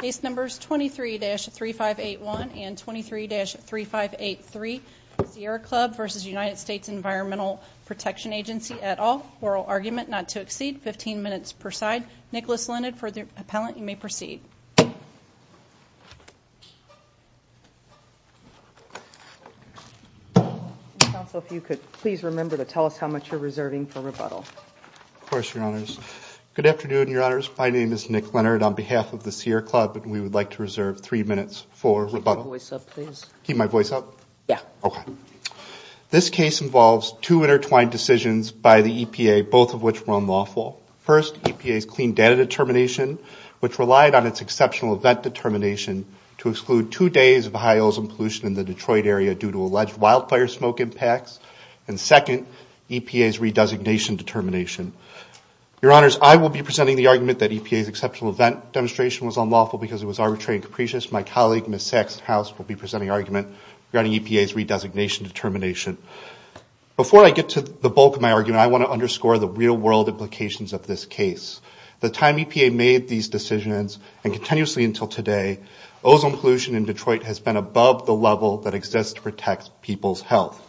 Case numbers 23-3581 and 23-3583. Sierra Club v. United States Environmental Protection Agency et al. Oral argument not to exceed 15 minutes per side. Nicholas Leonard for the appellant, you may proceed. Counsel, if you could please remember to tell us how much you're reserving for rebuttal. Of course, Your Honors. Good afternoon, Your Honors. My name is Nick Leonard on behalf of the Sierra Club, and we would like to reserve three minutes for rebuttal. Keep your voice up, please. Keep my voice up? Yeah. Okay. This case involves two intertwined decisions by the EPA, both of which were unlawful. First, EPA's clean data determination, which relied on its exceptional event determination to exclude two days of high ozone pollution in the Detroit area due to alleged wildfire smoke impacts. And second, EPA's re-designation determination. Your Honors, I will be presenting the argument that EPA's exceptional event demonstration was unlawful because it was arbitrary and capricious. My colleague, Ms. Saxhouse, will be presenting argument regarding EPA's re-designation determination. Before I get to the bulk of my argument, I want to underscore the real-world implications of this case. The time EPA made these decisions, and continuously until today, ozone pollution in Detroit has been above the level that exists to protect people's health.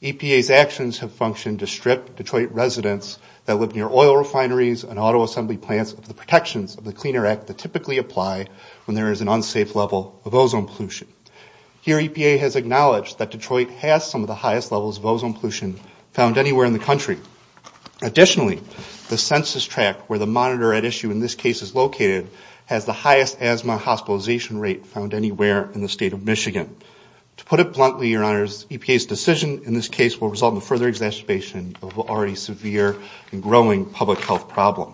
EPA's actions have functioned to strip Detroit residents that live near oil refineries and auto assembly plants of the protections of the Cleaner Act that typically apply when there is an unsafe level of ozone pollution. Here, EPA has acknowledged that Detroit has some of the highest levels of ozone pollution found anywhere in the country. Additionally, the census tract where the monitor at issue in this case is located has the highest asthma hospitalization rate found anywhere in the state of Michigan. To put it bluntly, Your Honors, EPA's decision in this case will result in further exacerbation of an already severe and growing public health problem.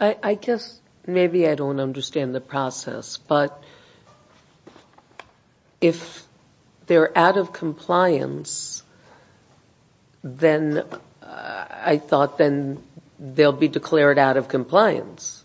I guess maybe I don't understand the process, but if they're out of compliance, then I thought then they'll be declared out of compliance.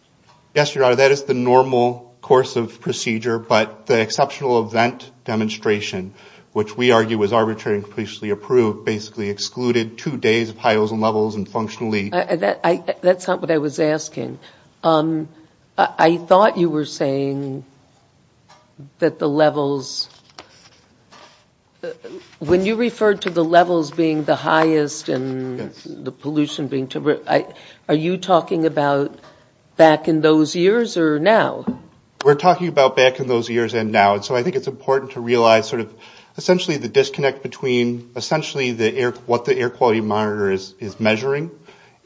Yes, Your Honor, that is the normal course of procedure, but the exceptional event demonstration, which we argue was arbitrary and capriciously approved, basically excluded two days of high ozone levels and functionally... That's not what I was asking. I thought you were saying that the levels... When you referred to the levels being the highest and the pollution being... Are you talking about back in those years or now? We're talking about back in those years and now, and so I think it's important to realize sort of essentially the disconnect between essentially what the air quality monitor is measuring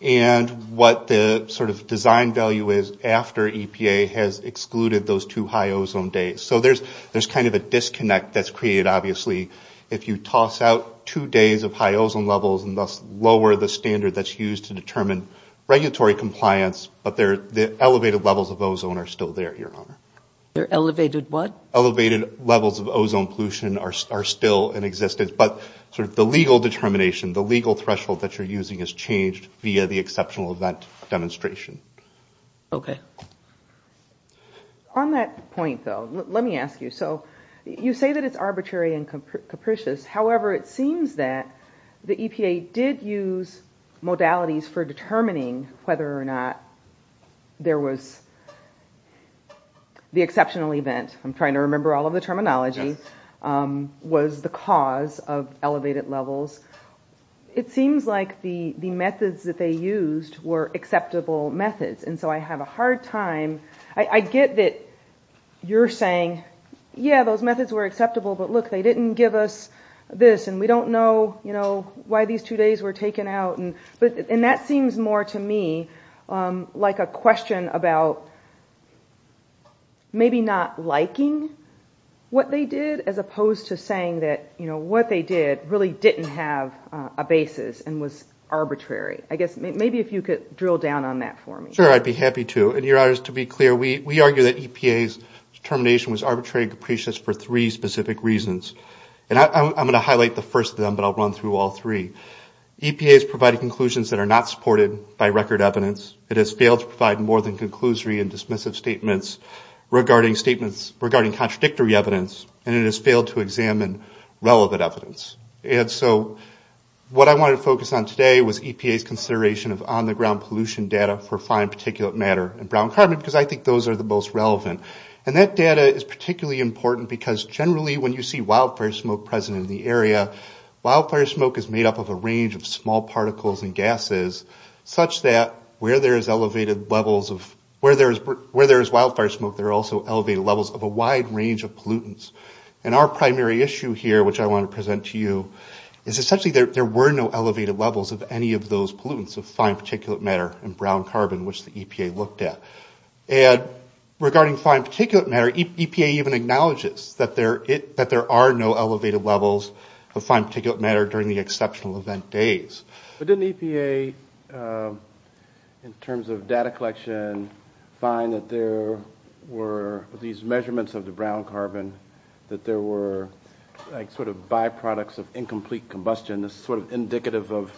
and what the sort of design value is after EPA has excluded those two high ozone days. So there's kind of a disconnect that's created obviously if you toss out two days of high ozone levels and thus lower the standard that's used to determine regulatory compliance, but the elevated levels of ozone are still there. Elevated what? Elevated levels of ozone pollution are still in existence, but sort of the legal determination, the legal threshold that you're using has changed via the exceptional event demonstration. Okay. On that point though, let me ask you. So you say that it's arbitrary and capricious. However, it seems that the EPA did use modalities for determining whether or not there was the exceptional event. I'm trying to remember all of the terminology. Was the cause of elevated levels. It seems like the methods that they used were acceptable methods. And so I have a hard time, I get that you're saying, yeah, those methods were acceptable, but look, they didn't give us this and we don't know why these two days were taken out. And that seems more to me like a question about maybe not liking what they did as opposed to saying that what they did really didn't have a basis and was arbitrary. I guess maybe if you could drill down on that for me. Sure, I'd be happy to. And Your Honor, to be clear, we argue that EPA's determination was arbitrary and capricious for three specific reasons. And I'm going to highlight the first of them, but I'll run through all three. EPA has provided conclusions that are not supported by record evidence. It has failed to provide more than conclusory and dismissive statements regarding contradictory evidence. And it has failed to examine relevant evidence. And so what I wanted to focus on today was EPA's consideration of on-the-ground pollution data for fine particulate matter and brown carbon because I think those are the most relevant. And that data is particularly important because generally when you see wildfire smoke present in the area, wildfire smoke is made up of a range of small particles and gases such that where there is wildfire smoke, there are also elevated levels of a wide range of pollutants. And our primary issue here, which I want to present to you, is essentially there were no elevated levels of any of those pollutants of fine particulate matter and brown carbon, which the EPA looked at. And regarding fine particulate matter, EPA even acknowledges that there are no elevated levels of fine particulate matter during the exceptional event days. But didn't EPA, in terms of data collection, find that there were these measurements of the brown carbon and brown carbon, that there were sort of byproducts of incomplete combustion, sort of indicative of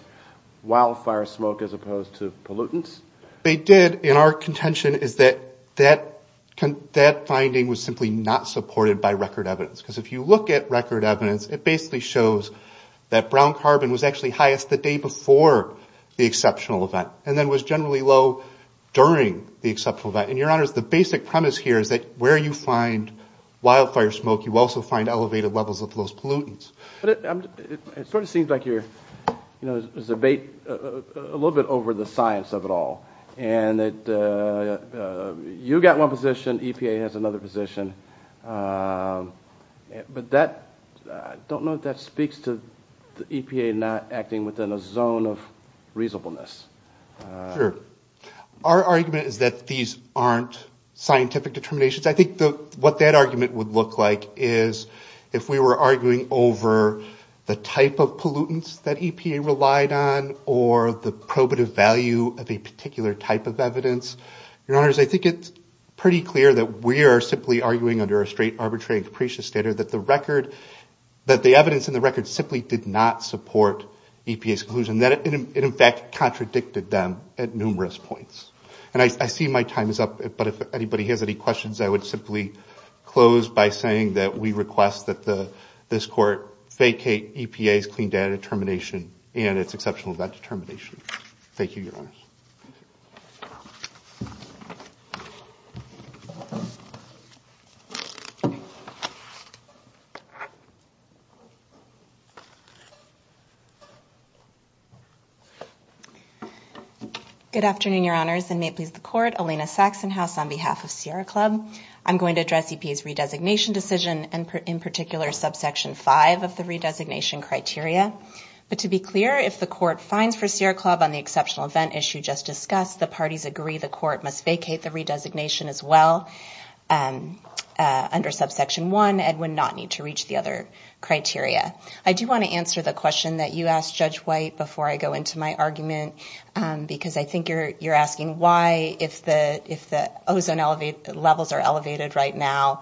wildfire smoke as opposed to pollutants? They did. And our contention is that that finding was simply not supported by record evidence. Because if you look at record evidence, it basically shows that brown carbon was actually highest the day before the exceptional event and then was generally low during the exceptional event. And your honors, the basic premise here is that where you find wildfire smoke, you also find elevated levels of those pollutants. But it sort of seems like you're, you know, there's a debate a little bit over the science of it all. And that you got one position, EPA has another position. But that, I don't know if that speaks to the EPA not acting within a zone of reasonableness. Sure. Our argument is that these aren't scientific determinations. I think what that argument would look like is if we were arguing over the type of pollutants that EPA relied on or the probative value of a particular type of evidence. Your honors, I think it's pretty clear that we are simply arguing under a straight arbitrary and capricious standard that the record, that the evidence in the record simply did not support EPA's conclusion. And that it in fact contradicted them at numerous points. And I see my time is up, but if anybody has any questions, I would simply close by saying that we request that this court vacate EPA's clean data determination and its exceptional event determination. Thank you, your honors. Good afternoon, your honors, and may it please the court. Alina Saxonhouse on behalf of Sierra Club. I'm going to address EPA's redesignation decision and in particular subsection 5 of the redesignation criteria. But to be clear, if the court finds for Sierra Club on the exceptional event issue just discussed, the parties agree the court must vacate the redesignation as well. Under subsection 1, it would not need to reach the other criteria. I do want to answer the question that you asked, Judge White, before I go into my argument. Because I think you're asking why, if the ozone levels are elevated right now,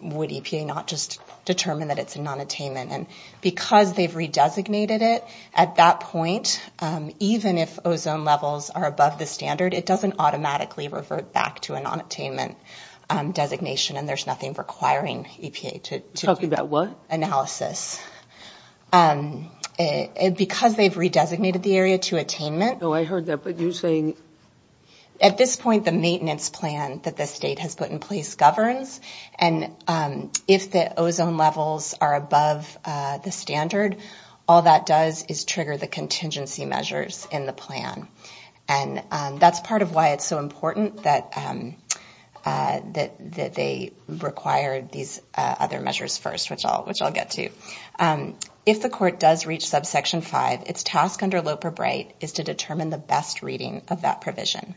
would EPA not just determine that it's a nonattainment. And because they've redesignated it, at that point, even if ozone levels are above the standard, it doesn't automatically revert back to a nonattainment designation and there's nothing requiring EPA to do analysis. Because they've redesignated the area to attainment, at this point, the maintenance plan that the state has put in place governs. And if the ozone levels are above the standard, all that does is trigger the contingency measures in the plan. And that's part of why it's so important that they require these other measures first, which I'll get to. If the court does reach subsection 5, its task under Loper-Bright is to determine the best reading of that provision.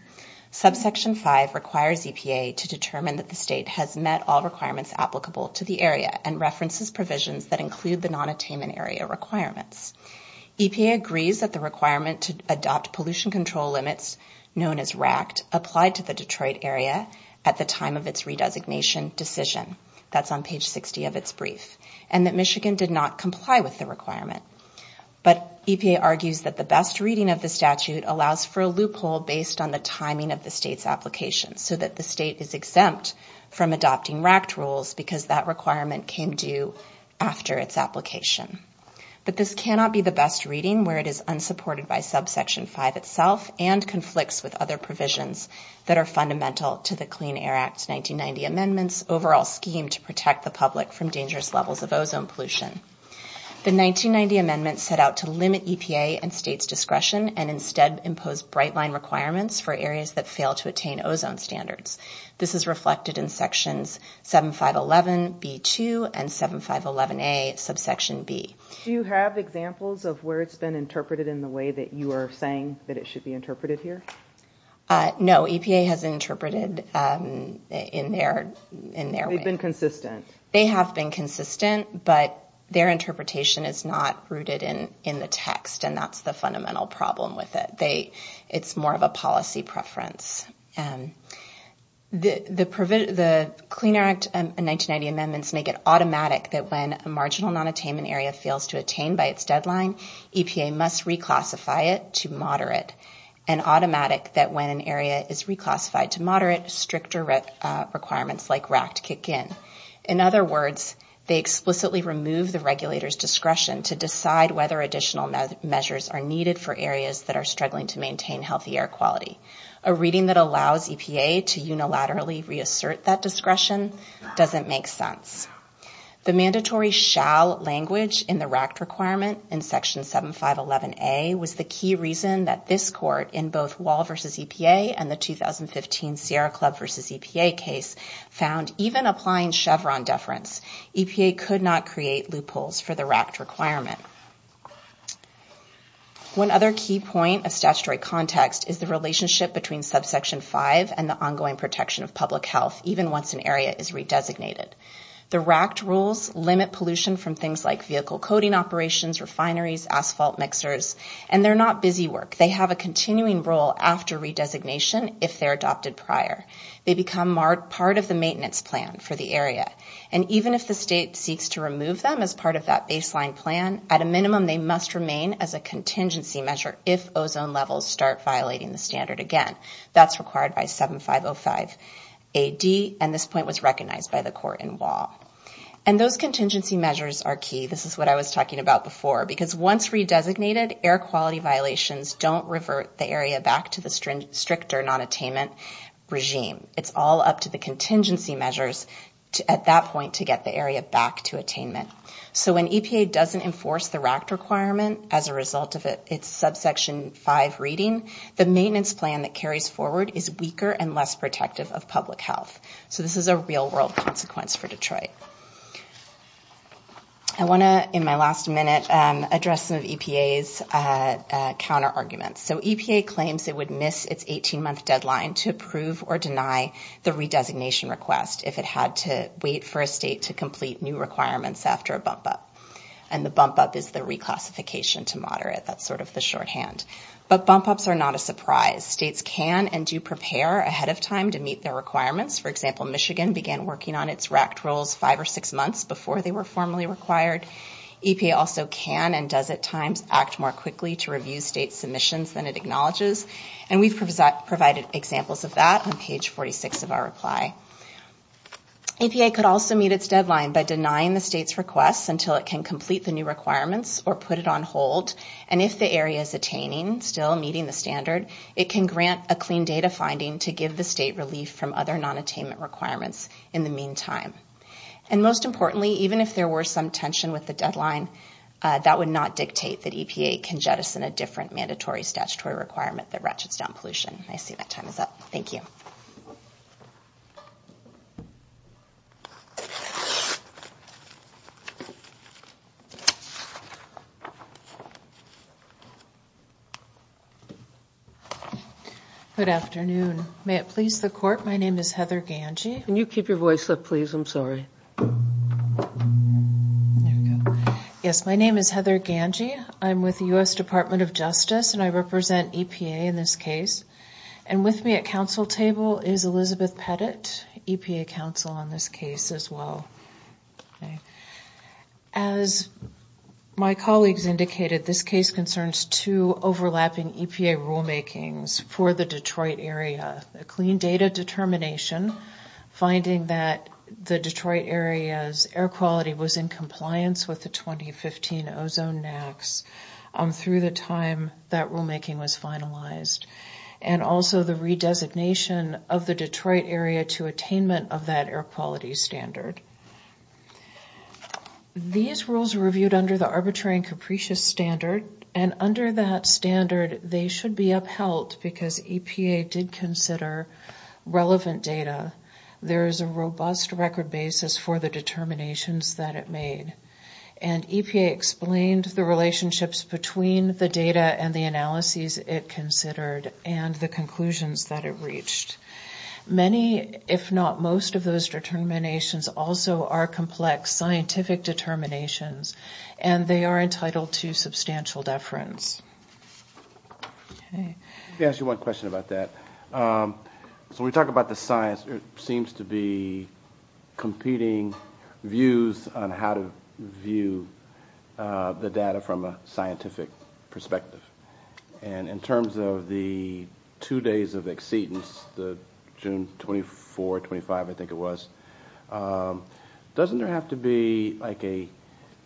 Subsection 5 requires EPA to determine that the state has met all requirements applicable to the area and references provisions that include the nonattainment area requirements. EPA agrees that the requirement to adopt pollution control limits, known as RACT, applied to the Detroit area at the time of its redesignation decision. That's on page 60 of its brief. And that Michigan did not comply with the requirement. But EPA argues that the best reading of the statute allows for a loophole based on the timing of the state's application, so that the state is exempt from adopting RACT rules because that requirement came due after its application. But this cannot be the best reading where it is unsupported by subsection 5 itself and conflicts with other provisions that are fundamental to the Clean Air Act 1990 amendments, overall statute, and other provisions. This is a scheme to protect the public from dangerous levels of ozone pollution. The 1990 amendments set out to limit EPA and state's discretion and instead impose bright line requirements for areas that fail to attain ozone standards. This is reflected in sections 7511B2 and 7511A, subsection B. Do you have examples of where it's been interpreted in the way that you are saying that it should be interpreted here? No, EPA has interpreted in their way. They have been consistent, but their interpretation is not rooted in the text. And that's the fundamental problem with it. It's more of a policy preference. The Clean Air Act 1990 amendments make it automatic that when a marginal non-attainment area fails to attain by its deadline, EPA must reclassify it to moderate. And automatic that when an area is reclassified to moderate, stricter requirements like RACT kick in. In other words, they explicitly remove the regulator's discretion to decide whether additional measures are needed for areas that are struggling to maintain healthy air quality. A reading that allows EPA to unilaterally reassert that discretion doesn't make sense. The mandatory shall language in the RACT requirement in section 7511A was the key reason that this court in both Wall v. EPA and the 2015 Sierra Club v. EPA case found even applying Chevron deference, EPA could not create loopholes for the RACT requirement. One other key point of statutory context is the relationship between subsection 5 and the ongoing protection of public health, even once an area is redesignated. The RACT rules limit pollution from things like vehicle coating operations, refineries, asphalt mixers, and they're not busy work. They have a continuing role after redesignation if they're adopted prior. They become part of the maintenance plan for the area. And even if the state seeks to remove them as part of that baseline plan, at a minimum, they must remain as a contingency measure if ozone levels start violating the standard again. That's required by 7505AD, and this point was recognized by the court in Wall. And those contingency measures are key. This is what I was talking about before, because once redesignated, air quality violations don't revert the area back to the stricter nonattainment regime. It's all up to the contingency measures at that point to get the area back to attainment. So when EPA doesn't enforce the RACT requirement as a result of its subsection 5 reading, the maintenance plan that carries forward is weaker and less protective of public health. So this is a real-world consequence for Detroit. I want to, in my last minute, address some of EPA's counterarguments. So EPA claims it would miss its 18-month deadline to approve or deny the RACT requirement. It would also deny the redesignation request if it had to wait for a state to complete new requirements after a bump-up. And the bump-up is the reclassification to moderate. That's sort of the shorthand. But bump-ups are not a surprise. States can and do prepare ahead of time to meet their requirements. For example, Michigan began working on its RACT rules five or six months before they were formally required. EPA also can and does at times act more quickly to review state submissions than it acknowledges. And we've provided examples of that on page 46 of our reply. EPA could also meet its deadline by denying the state's requests until it can complete the new requirements or put it on hold. And if the area is attaining, still meeting the standard, it can grant a clean data finding to give the state relief from other non-attainment requirements in the meantime. And most importantly, even if there were some tension with the deadline, that would not dictate that EPA can jettison a different mandatory statutory requirement there. Thank you. Heather Gangy My name is Heather Gangy. I'm with the U.S. Department of Justice. And I represent EPA in this case. And with me at council table is Elizabeth Pettit, EPA counsel on this case as well. As my colleagues indicated, this case concerns two overlapping EPA rulemakings for the Detroit area. A clean data determination, finding that the Detroit area's air quality was in compliance with the 2015 ozone NAAQS through the time that rulemaking was finalized. And also the redesignation of the Detroit area to attainment of that air quality standard. These rules were reviewed under the arbitrary and capricious standard. And under that standard, they should be upheld because EPA did consider relevant data. There is a robust record basis for the determinations that it made. And EPA explained the relationships between the data and the analyses it considered and the conclusions that it reached. Many, if not most, of those determinations also are complex scientific determinations. And they are entitled to substantial deference. Let me ask you one question about that. So when we talk about the science, it seems to be competing views on how to view the data from a scientific perspective. And in terms of the two days of exceedance, the June 24, 25, I think it was, doesn't there have to be like a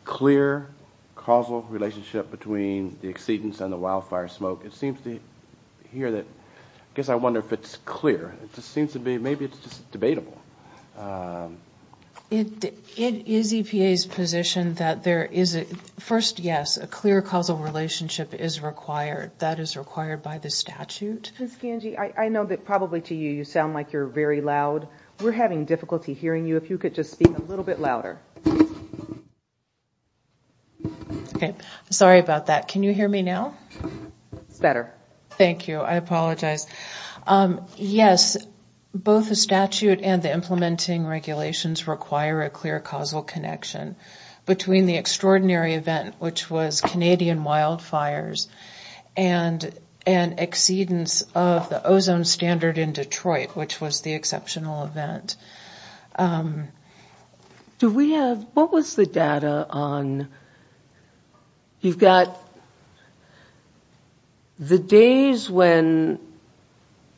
clear causal relationship between the exceedance and the wildfire smoke? It seems to hear that, I guess I wonder if it's clear. It just seems to be, maybe it's just debatable. It is EPA's position that there is a, first, yes, a clear causal relationship is required. That is required by the statute. Ms. Gange, I know that probably to you, you sound like you're very loud. We're having difficulty hearing you. If you could just speak a little bit louder. Okay. Sorry about that. Can you hear me now? It's better. Thank you. I apologize. Yes, both the statute and the implementing regulations require a clear causal connection between the extraordinary event, which was Canadian wildfires, and exceedance of the ozone standard in Detroit, which was the exceptional event. Do we have, what was the data on, you've got the days when, you know,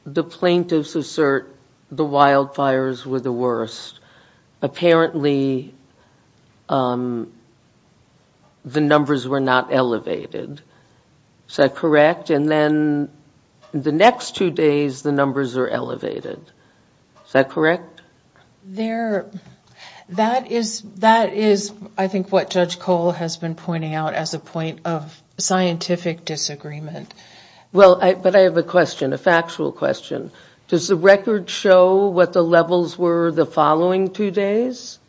the plaintiffs assert the wildfires were the worst. Apparently, the numbers were not elevated. Is that correct? And then the next two days, the numbers are elevated. Is that correct? That is, I think, what Judge Cole has been pointing out as a point of scientific disagreement. Well, but I have a question, a factual question. Does the record show what the levels were the following two days?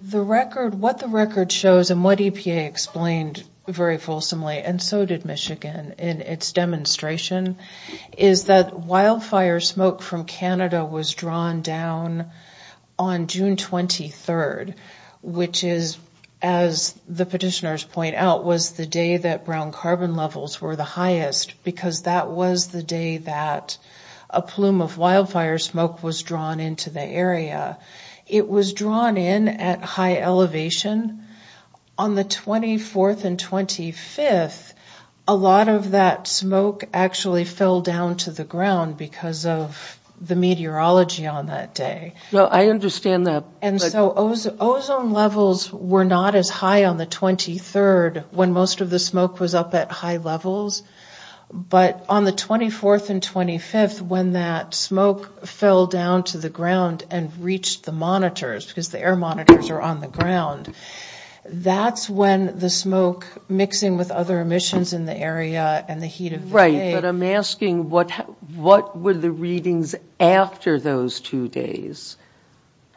The record, what the record shows, and what EPA explained very fulsomely, and so did Michigan in its demonstration, is that wildfire smoke from Canada was drawn down on June 23rd, which is, as the petitioners point out, was the day that brown carbon levels were the highest in Michigan. Because that was the day that a plume of wildfire smoke was drawn into the area. It was drawn in at high elevation. On the 24th and 25th, a lot of that smoke actually fell down to the ground, because of the meteorology on that day. No, I understand that. And so ozone levels were not as high on the 23rd, when most of the smoke was up at high levels. But on the 24th and 25th, when that smoke fell down to the ground and reached the monitors, because the air monitors are on the ground, that's when the smoke, mixing with other emissions in the area and the heat of the day. But I'm asking, what were the readings after those two days?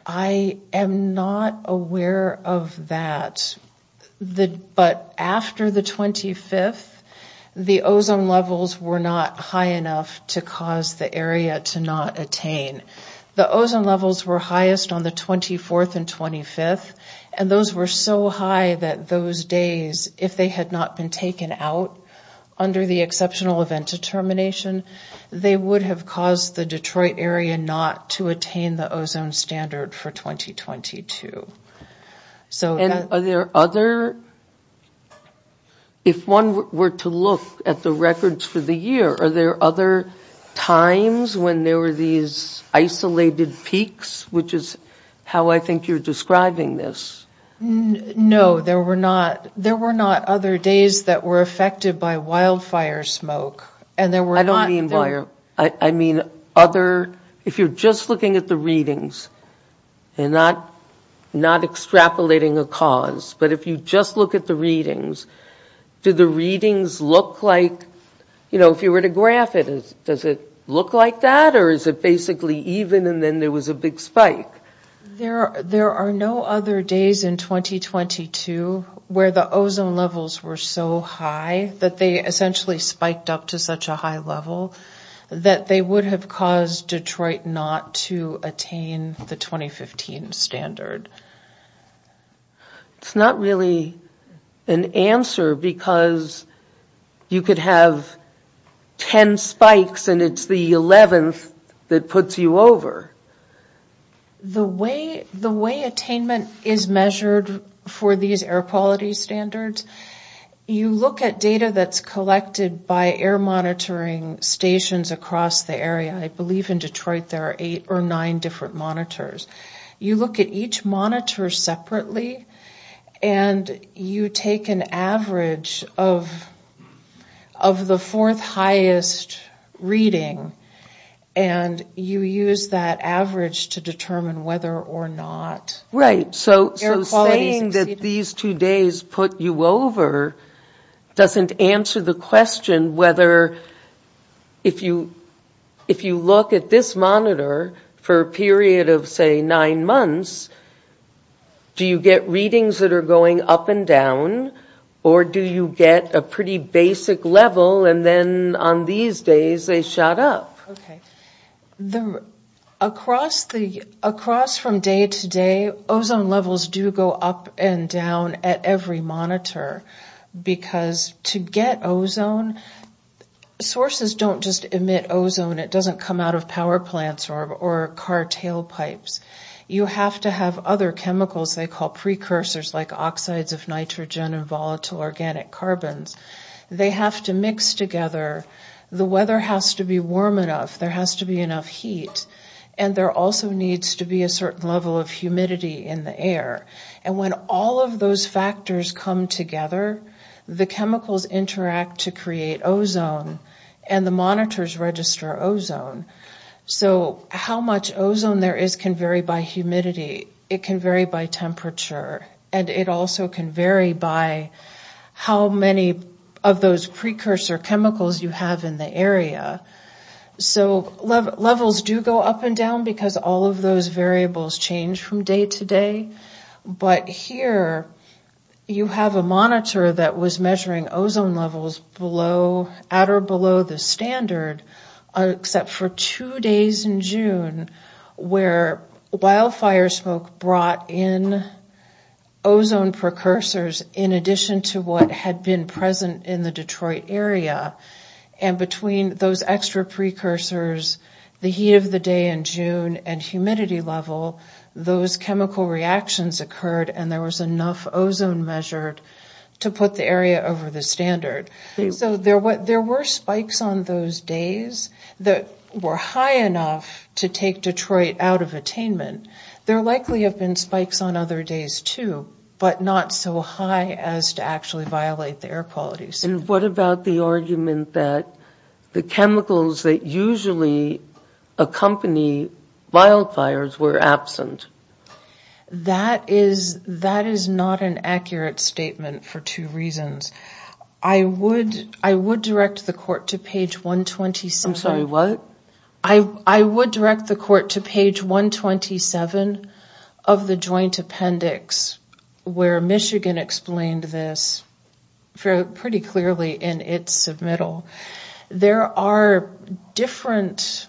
I am not aware of that. But after the 25th, the ozone levels were not high enough to cause the area to not attain. The ozone levels were highest on the 24th and 25th, and those were so high that those days, if they had not been taken out under the exceptional event determination, they would have caused the Detroit area not to attain the ozone standard for 2022. And are there other, if one were to look at the records for the year, are there other times when there were these isolated peaks, which is how I think you're describing this? No, there were not other days that were affected by wildfire smoke. I don't mean wildfire. I mean other, if you're just looking at the readings and not extrapolating a cause, but if you just look at the readings, do the readings look like, you know, if you were to graph it, does it look like that, or is it basically even and then there was a big spike? There are no other days in 2022 where the ozone levels were so high that they essentially spiked up to such a high level that they would have caused Detroit not to attain the 2015 standard. It's not really an answer because you could have 10 spikes and it's the 11th that puts you over. The way attainment is measured for these air quality standards, you look at data that's collected by air monitoring stations across the area. I believe in Detroit there are eight or nine different monitors. You look at each monitor separately and you take an average of the fourth highest reading and you use that average to determine whether or not air quality is exceeding. So saying that these two days put you over doesn't answer the question whether, if you look at this monitor for a period of, say, nine months, do you get readings that are going up and down or do you get a pretty basic level and then on these days they shot up? Across from day to day, ozone levels do go up and down at every monitor because to get ozone, sources don't just emit ozone. It doesn't come out of power plants or car tailpipes. You have to have other chemicals they call precursors like oxides of nitrogen and volatile organic carbons. They have to mix together, the weather has to be warm enough, there has to be enough heat and there also needs to be a certain level of humidity in the air. And when all of those factors come together, the chemicals interact to create ozone and the monitors register ozone. So how much ozone there is can vary by humidity, it can vary by temperature and it also can vary by how many of those precursor chemicals you have in the area. So levels do go up and down because all of those variables change from day to day but here you have a monitor that was measuring ozone levels at or below the standard except for two days in June where wildfire smoke brought in ozone precursors in addition to what had been present in the Detroit area and between those extra precursors, the heat of the day in June and humidity level, those chemical reactions occurred and there was enough ozone measured to put the area over the standard. So there were spikes on those days that were high enough to take Detroit out of attainment, there likely have been spikes on other days too but not so high as to actually violate the air quality. And what about the argument that the chemicals that usually accompany wildfires were absent? That is not an accurate statement for two reasons. I would direct the court to page 127 of the joint appendix where Michigan explained this pretty clearly in its submittal. There are different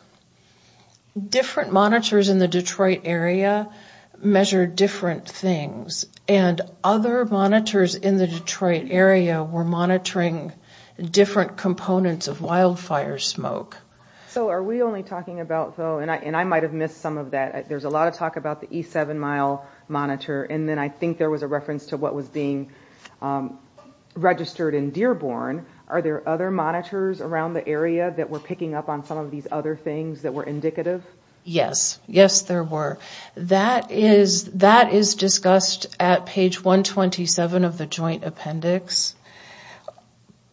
monitors in the Detroit area measure different things and other monitors in the Detroit area were monitoring different components of wildfire smoke. So are we only talking about though, and I might have missed some of that, there's a lot of talk about the E7 mile monitor and then I think there was a reference to what was being registered in Dearborn, are there other monitors around the area that were picking up on some of these other things that were indicative? Yes, yes there were. That is discussed at page 127 of the joint appendix.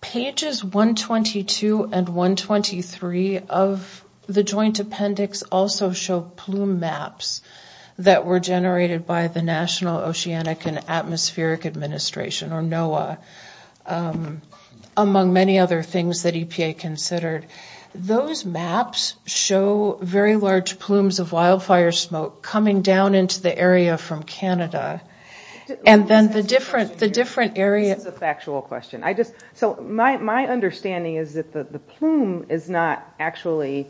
Pages 122 and 123 of the joint appendix also show plume maps that were generated by the National Oceanic and Atmospheric Administration or NOAA among many other things that EPA considered. Those maps show very large plumes of wildfire smoke coming down into the area from Canada. And then the different areas... So my understanding is that the plume is not actually,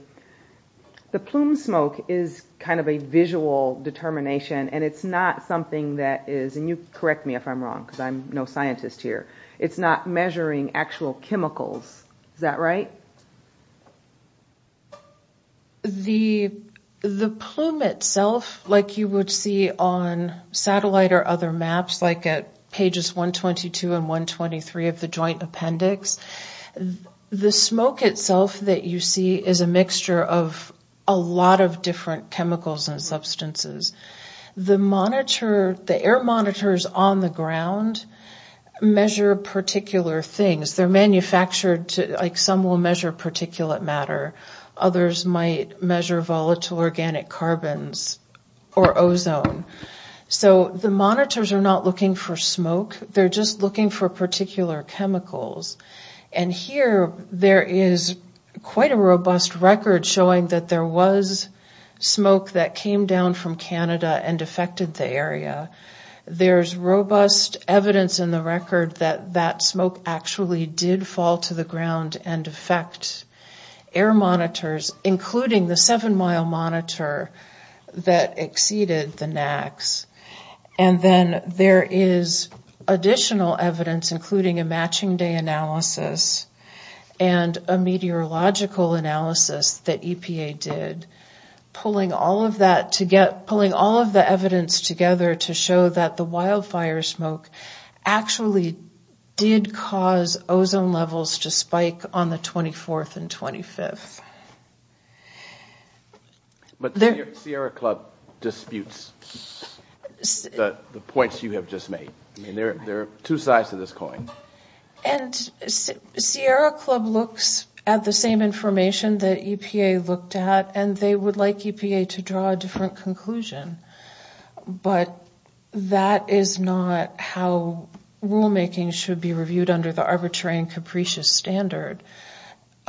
the plume smoke is kind of a visual determination and it's not something that is, and you correct me if I'm wrong because I'm no scientist here, it's not measuring actual chemicals, is that right? The plume itself, like you would see on satellite or other maps like at pages 122 and 123 of the joint appendix, the smoke itself that you see is a mixture of a lot of different chemicals and substances. The air monitors on the ground measure particular things. They're manufactured, like some will measure particulate matter, others might measure volatile organic carbons or ozone. So the monitors are not looking for smoke, they're just looking for particular chemicals. And here there is quite a robust record showing that there was smoke that came down from Canada and affected the area. There's robust evidence in the record that that smoke actually did fall to the ground and affect air monitors, including the seven-mile monitor that exceeded the NAAQS. And then there is additional evidence, including a matching day analysis and a meteorological analysis that EPA did. Pulling all of the evidence together to show that the wildfire smoke actually did cause ozone levels to spike on the 24th and 25th. But the Sierra Club disputes the points you have just made. I mean, there are two sides to this coin. And Sierra Club looks at the same information that EPA looked at, and they would like EPA to draw a different conclusion. But that is not how rulemaking should be reviewed under the arbitrary and capricious standard.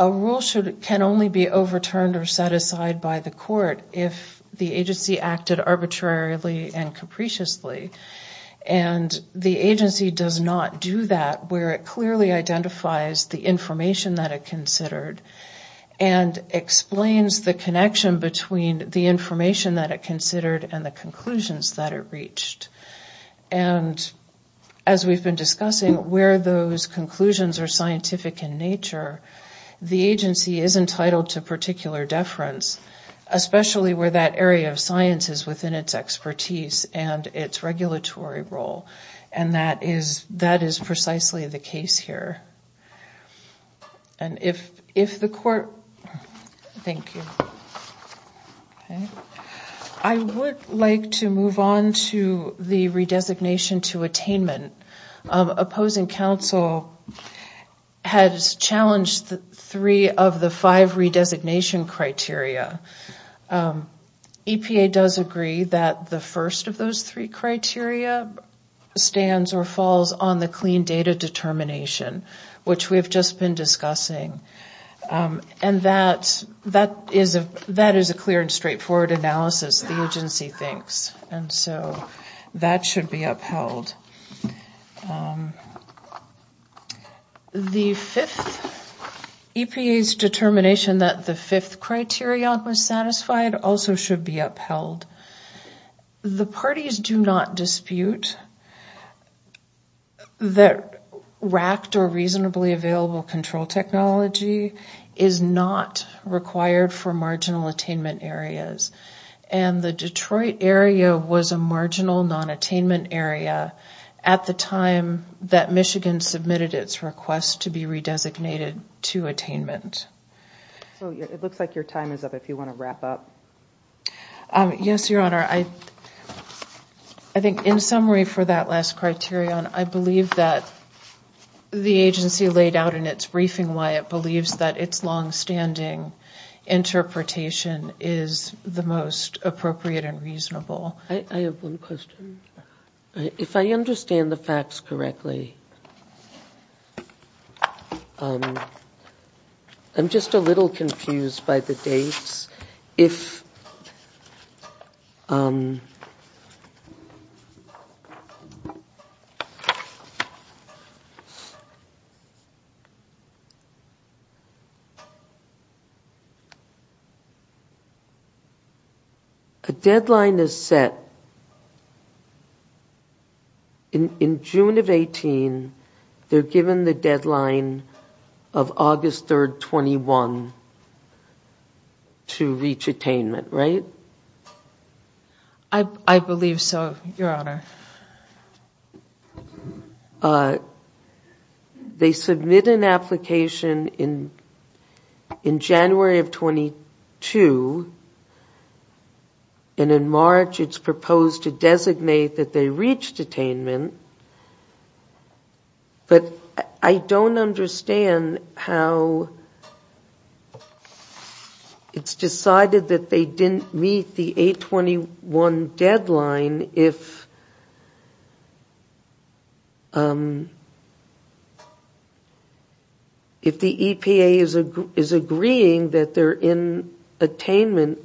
A rule can only be overturned or set aside by the court if the agency acted arbitrarily and capriciously. And the agency does not do that where it clearly identifies the information that it considered and explains the connection between the information that it considered and the conclusions that it reached. And as we've been discussing, where those conclusions are scientific in nature, the agency is entitled to particular deference, especially where that area of science is within its expertise and its regulatory role. And that is precisely the case here. And if the court... Thank you. I would like to move on to the redesignation to attainment. Opposing counsel has challenged three of the five redesignation criteria. EPA does agree that the first of those three criteria stands or falls on the clean data determination, which we have just been discussing. And that is a clear and straightforward analysis, the agency thinks. And so that should be upheld. The fifth, EPA's determination that the fifth criterion was satisfied also should be upheld. The parties do not dispute that racked or reasonably available control technology is not required for marginal attainment areas. And the Detroit area was a marginal non-attainment area at the time that Michigan submitted its request to be re-designated to attainment. So it looks like your time is up, if you want to wrap up. Yes, Your Honor. I think in summary for that last criterion, I believe that the agency laid out in its briefing why it believes that its long-standing interpretation is the most appropriate. I have one question. If I understand the facts correctly, I'm just a little confused by the dates. A deadline is set. In June of 2018, they're given the deadline of August 3rd, 2021 to reach attainment, right? I believe so, Your Honor. They submit an application in January of 2022. And in March, it's proposed to designate that they reached attainment. But I don't understand how it's decided that they didn't meet the 8-21 deadline if the EPA is agreeing that they're in attainment.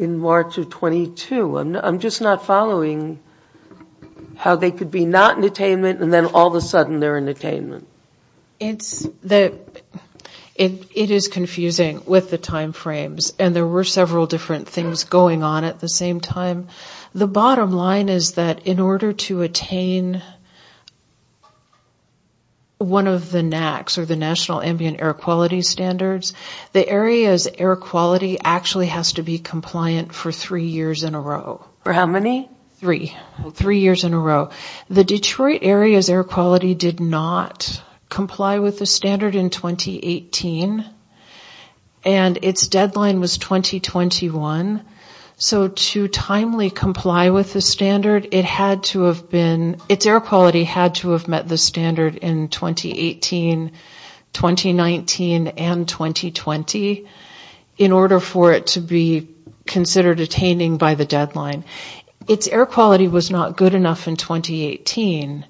I'm just not following how they could be not in attainment and then all of a sudden they're in attainment. It is confusing with the time frames. And there were several different things going on at the same time. The bottom line is that in order to attain one of the NACs, or the National Ambient Air Quality Standards, the area's air quality actually has to be comparable. And it has to be compliant for three years in a row. For how many? Three. Three years in a row. The Detroit area's air quality did not comply with the standard in 2018, and its deadline was 2021. So to timely comply with the standard, it had to have been... considered attaining by the deadline. Its air quality was not good enough in 2018.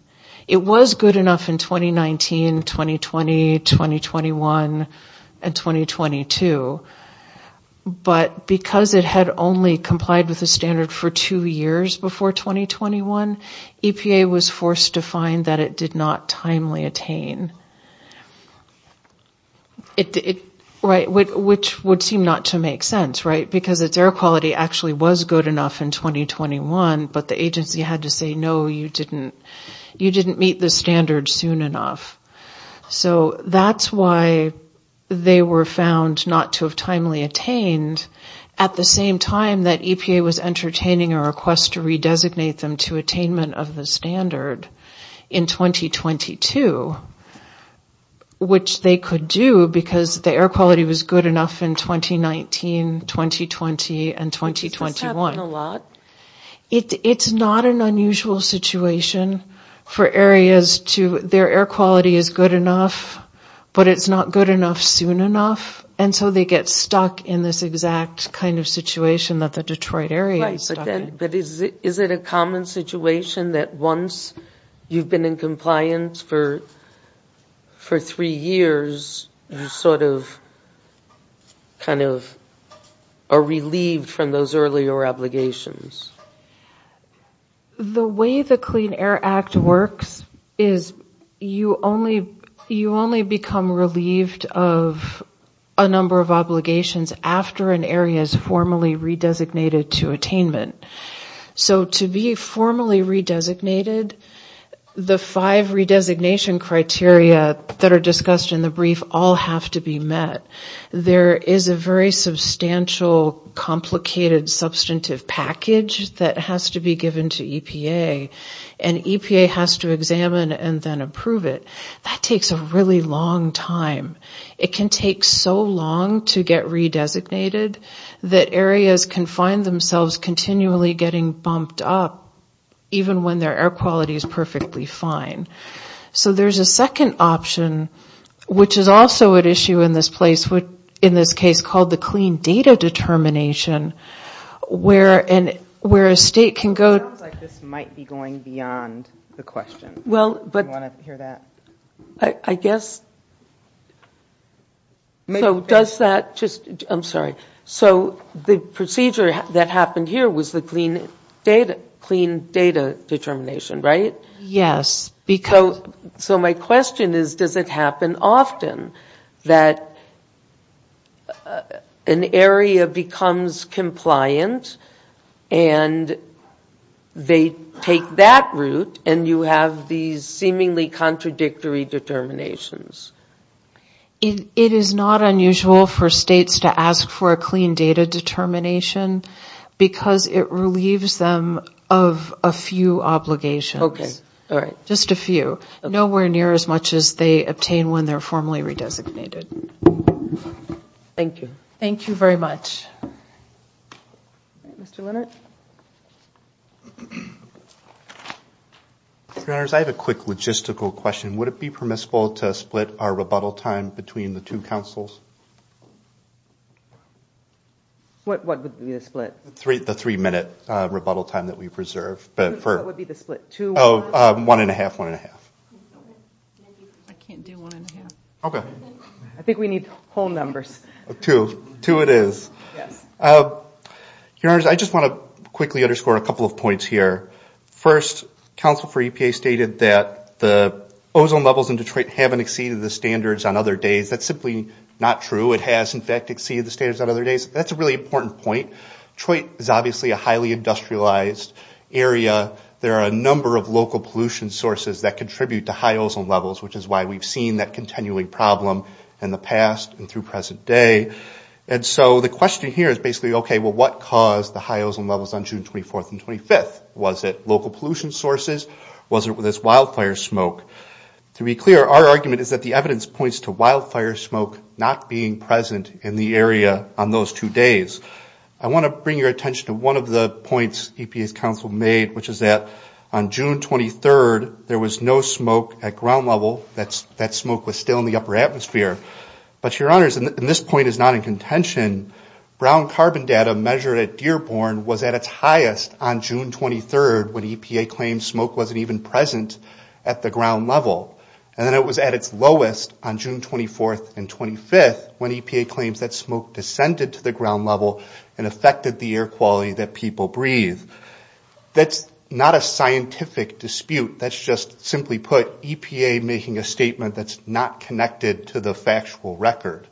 It was good enough in 2019, 2020, 2021, and 2022. But because it had only complied with the standard for two years before 2021, EPA was forced to find that it did not timely attain. Which would seem not to make sense, right? Because its air quality actually was good enough in 2021, but the agency had to say, no, you didn't meet the standard soon enough. So that's why they were found not to have timely attained at the same time that EPA was entertaining a request to redesignate them to attainment of the standard in 2022. Which they could do, because the air quality was good enough in 2019, 2020, and 2021. Does this happen a lot? It's not an unusual situation for areas to... Their air quality is good enough, but it's not good enough soon enough. And so they get stuck in this exact kind of situation that the Detroit area is stuck in. And for three years, you sort of kind of are relieved from those earlier obligations. The way the Clean Air Act works is you only become relieved of a number of obligations after an area is formally redesignated to attainment. So to be formally redesignated, the five redesignation criteria that are discussed in the brief all have to be met. There is a very substantial, complicated, substantive package that has to be given to EPA. And EPA has to examine and then approve it. That takes a really long time. It can take so long to get redesignated that areas can find themselves continually getting bumped up, even when their air quality is perfectly fine. So there's a second option, which is also at issue in this place, in this case called the clean data determination, where a state can go... It sounds like this might be going beyond the question. Do you want to hear that? I guess... So the procedure that happened here was the clean data determination, right? Yes. So my question is, does it happen often that an area becomes compliant and they take that route and you have these seemingly contradictory determinations? It is not unusual for states to ask for a clean data determination, because it relieves them of a few obligations. Okay. All right. Just a few. Nowhere near as much as they obtain when they're formally redesignated. Thank you. Thank you very much. I have a quick logistical question. Would it be permissible to split our rebuttal time between the two councils? What would be the split? The three minute rebuttal time that we preserve. One and a half, one and a half. I can't do one and a half. I think we need whole numbers. Two it is. I just want to quickly underscore a couple of points here. First, council for EPA stated that the ozone levels in Detroit haven't exceeded the standards on other days. That's simply not true. It has, in fact, exceeded the standards on other days. That's a really important point. Detroit is obviously a highly industrialized area. There are a number of local pollution sources that contribute to high ozone levels, which is why we've seen that continuing problem in the past and through present day. And so the question here is basically, okay, well, what caused the high ozone levels on June 24th and 25th? Was it local pollution sources? Was it this wildfire smoke? To be clear, our argument is that the evidence points to wildfire smoke not being present in the area on those two days. I want to bring your attention to one of the points EPA's council made, which is that on June 23rd, there was no smoke at ground level. That smoke was still in the upper atmosphere. But, your honors, and this point is not in contention, brown carbon data measured at Dearborn was at its highest on June 23rd when EPA claimed smoke wasn't even present at the ground level. And then it was at its lowest on June 24th and 25th when EPA claims that smoke descended to the ground level and affected the air quality that people breathe. That's not a scientific dispute. That's just, simply put, EPA making a statement that's not connected to the factual record.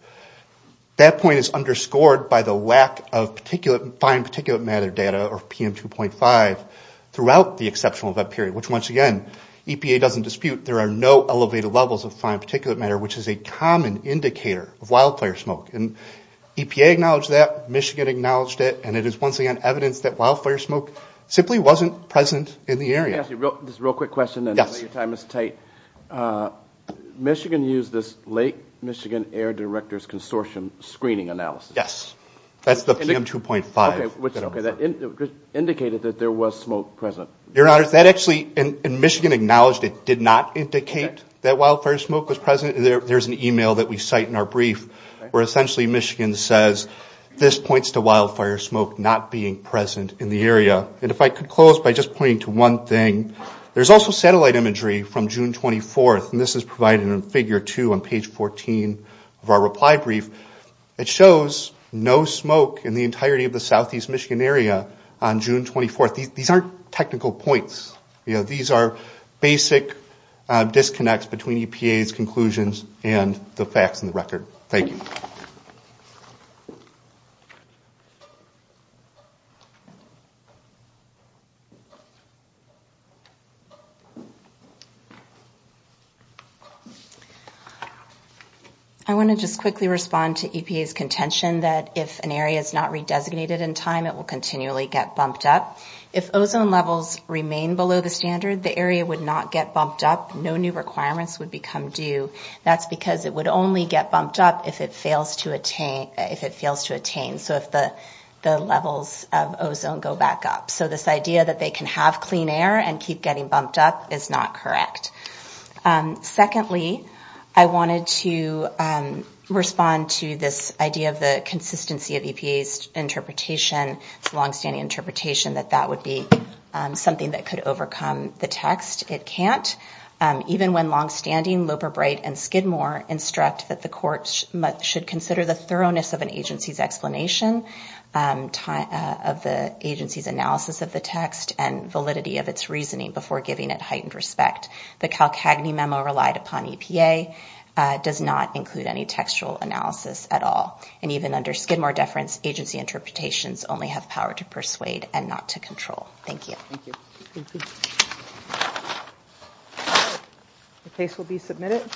That point is underscored by the lack of fine particulate matter data, or PM2.5, throughout the exceptional event period, which, once again, EPA doesn't dispute. There are no elevated levels of fine particulate matter, which is a common indicator of wildfire smoke. And EPA acknowledged that, Michigan acknowledged it, and it is, once again, evidence that wildfire smoke simply wasn't present in the area. Just a real quick question, and I know your time is tight. Michigan used this Lake Michigan Air Directors Consortium screening analysis. Yes, that's the PM2.5. Indicated that there was smoke present. Your Honor, that actually, and Michigan acknowledged it, did not indicate that wildfire smoke was present. There's an email that we cite in our brief where essentially Michigan says, this points to wildfire smoke not being present in the area. And if I could close by just pointing to one thing, there's also satellite imagery from June 24th, and this is provided in figure two on page 14 of our reply brief. It shows no smoke in the entirety of the southeast Michigan area on June 24th. These aren't technical points. These are basic disconnects between EPA's conclusions and the facts in the record. Thank you. I want to just quickly respond to EPA's contention that if an area is not redesignated in time, it will continually get bumped up. If ozone levels remain below the standard, the area would not get bumped up. No new requirements would become due. That's because it would only get bumped up if it fails to attain, so if the levels of ozone go back up. So this idea that they can have clean air and keep getting bumped up is not correct. Secondly, I wanted to respond to this idea of the consistency of EPA's interpretation. It's a longstanding interpretation that that would be something that could overcome the text. It can't. Even when longstanding, Loper-Bright and Skidmore instruct that the court should consider the thoroughness of an agency's explanation of the agency's analysis of the text and validity of its reasoning before giving it heightened respect. The Calcagney memo relied upon EPA does not include any textual analysis at all. And even under Skidmore deference, agency interpretations only have power to persuade and not to control. Thank you. The case will be submitted.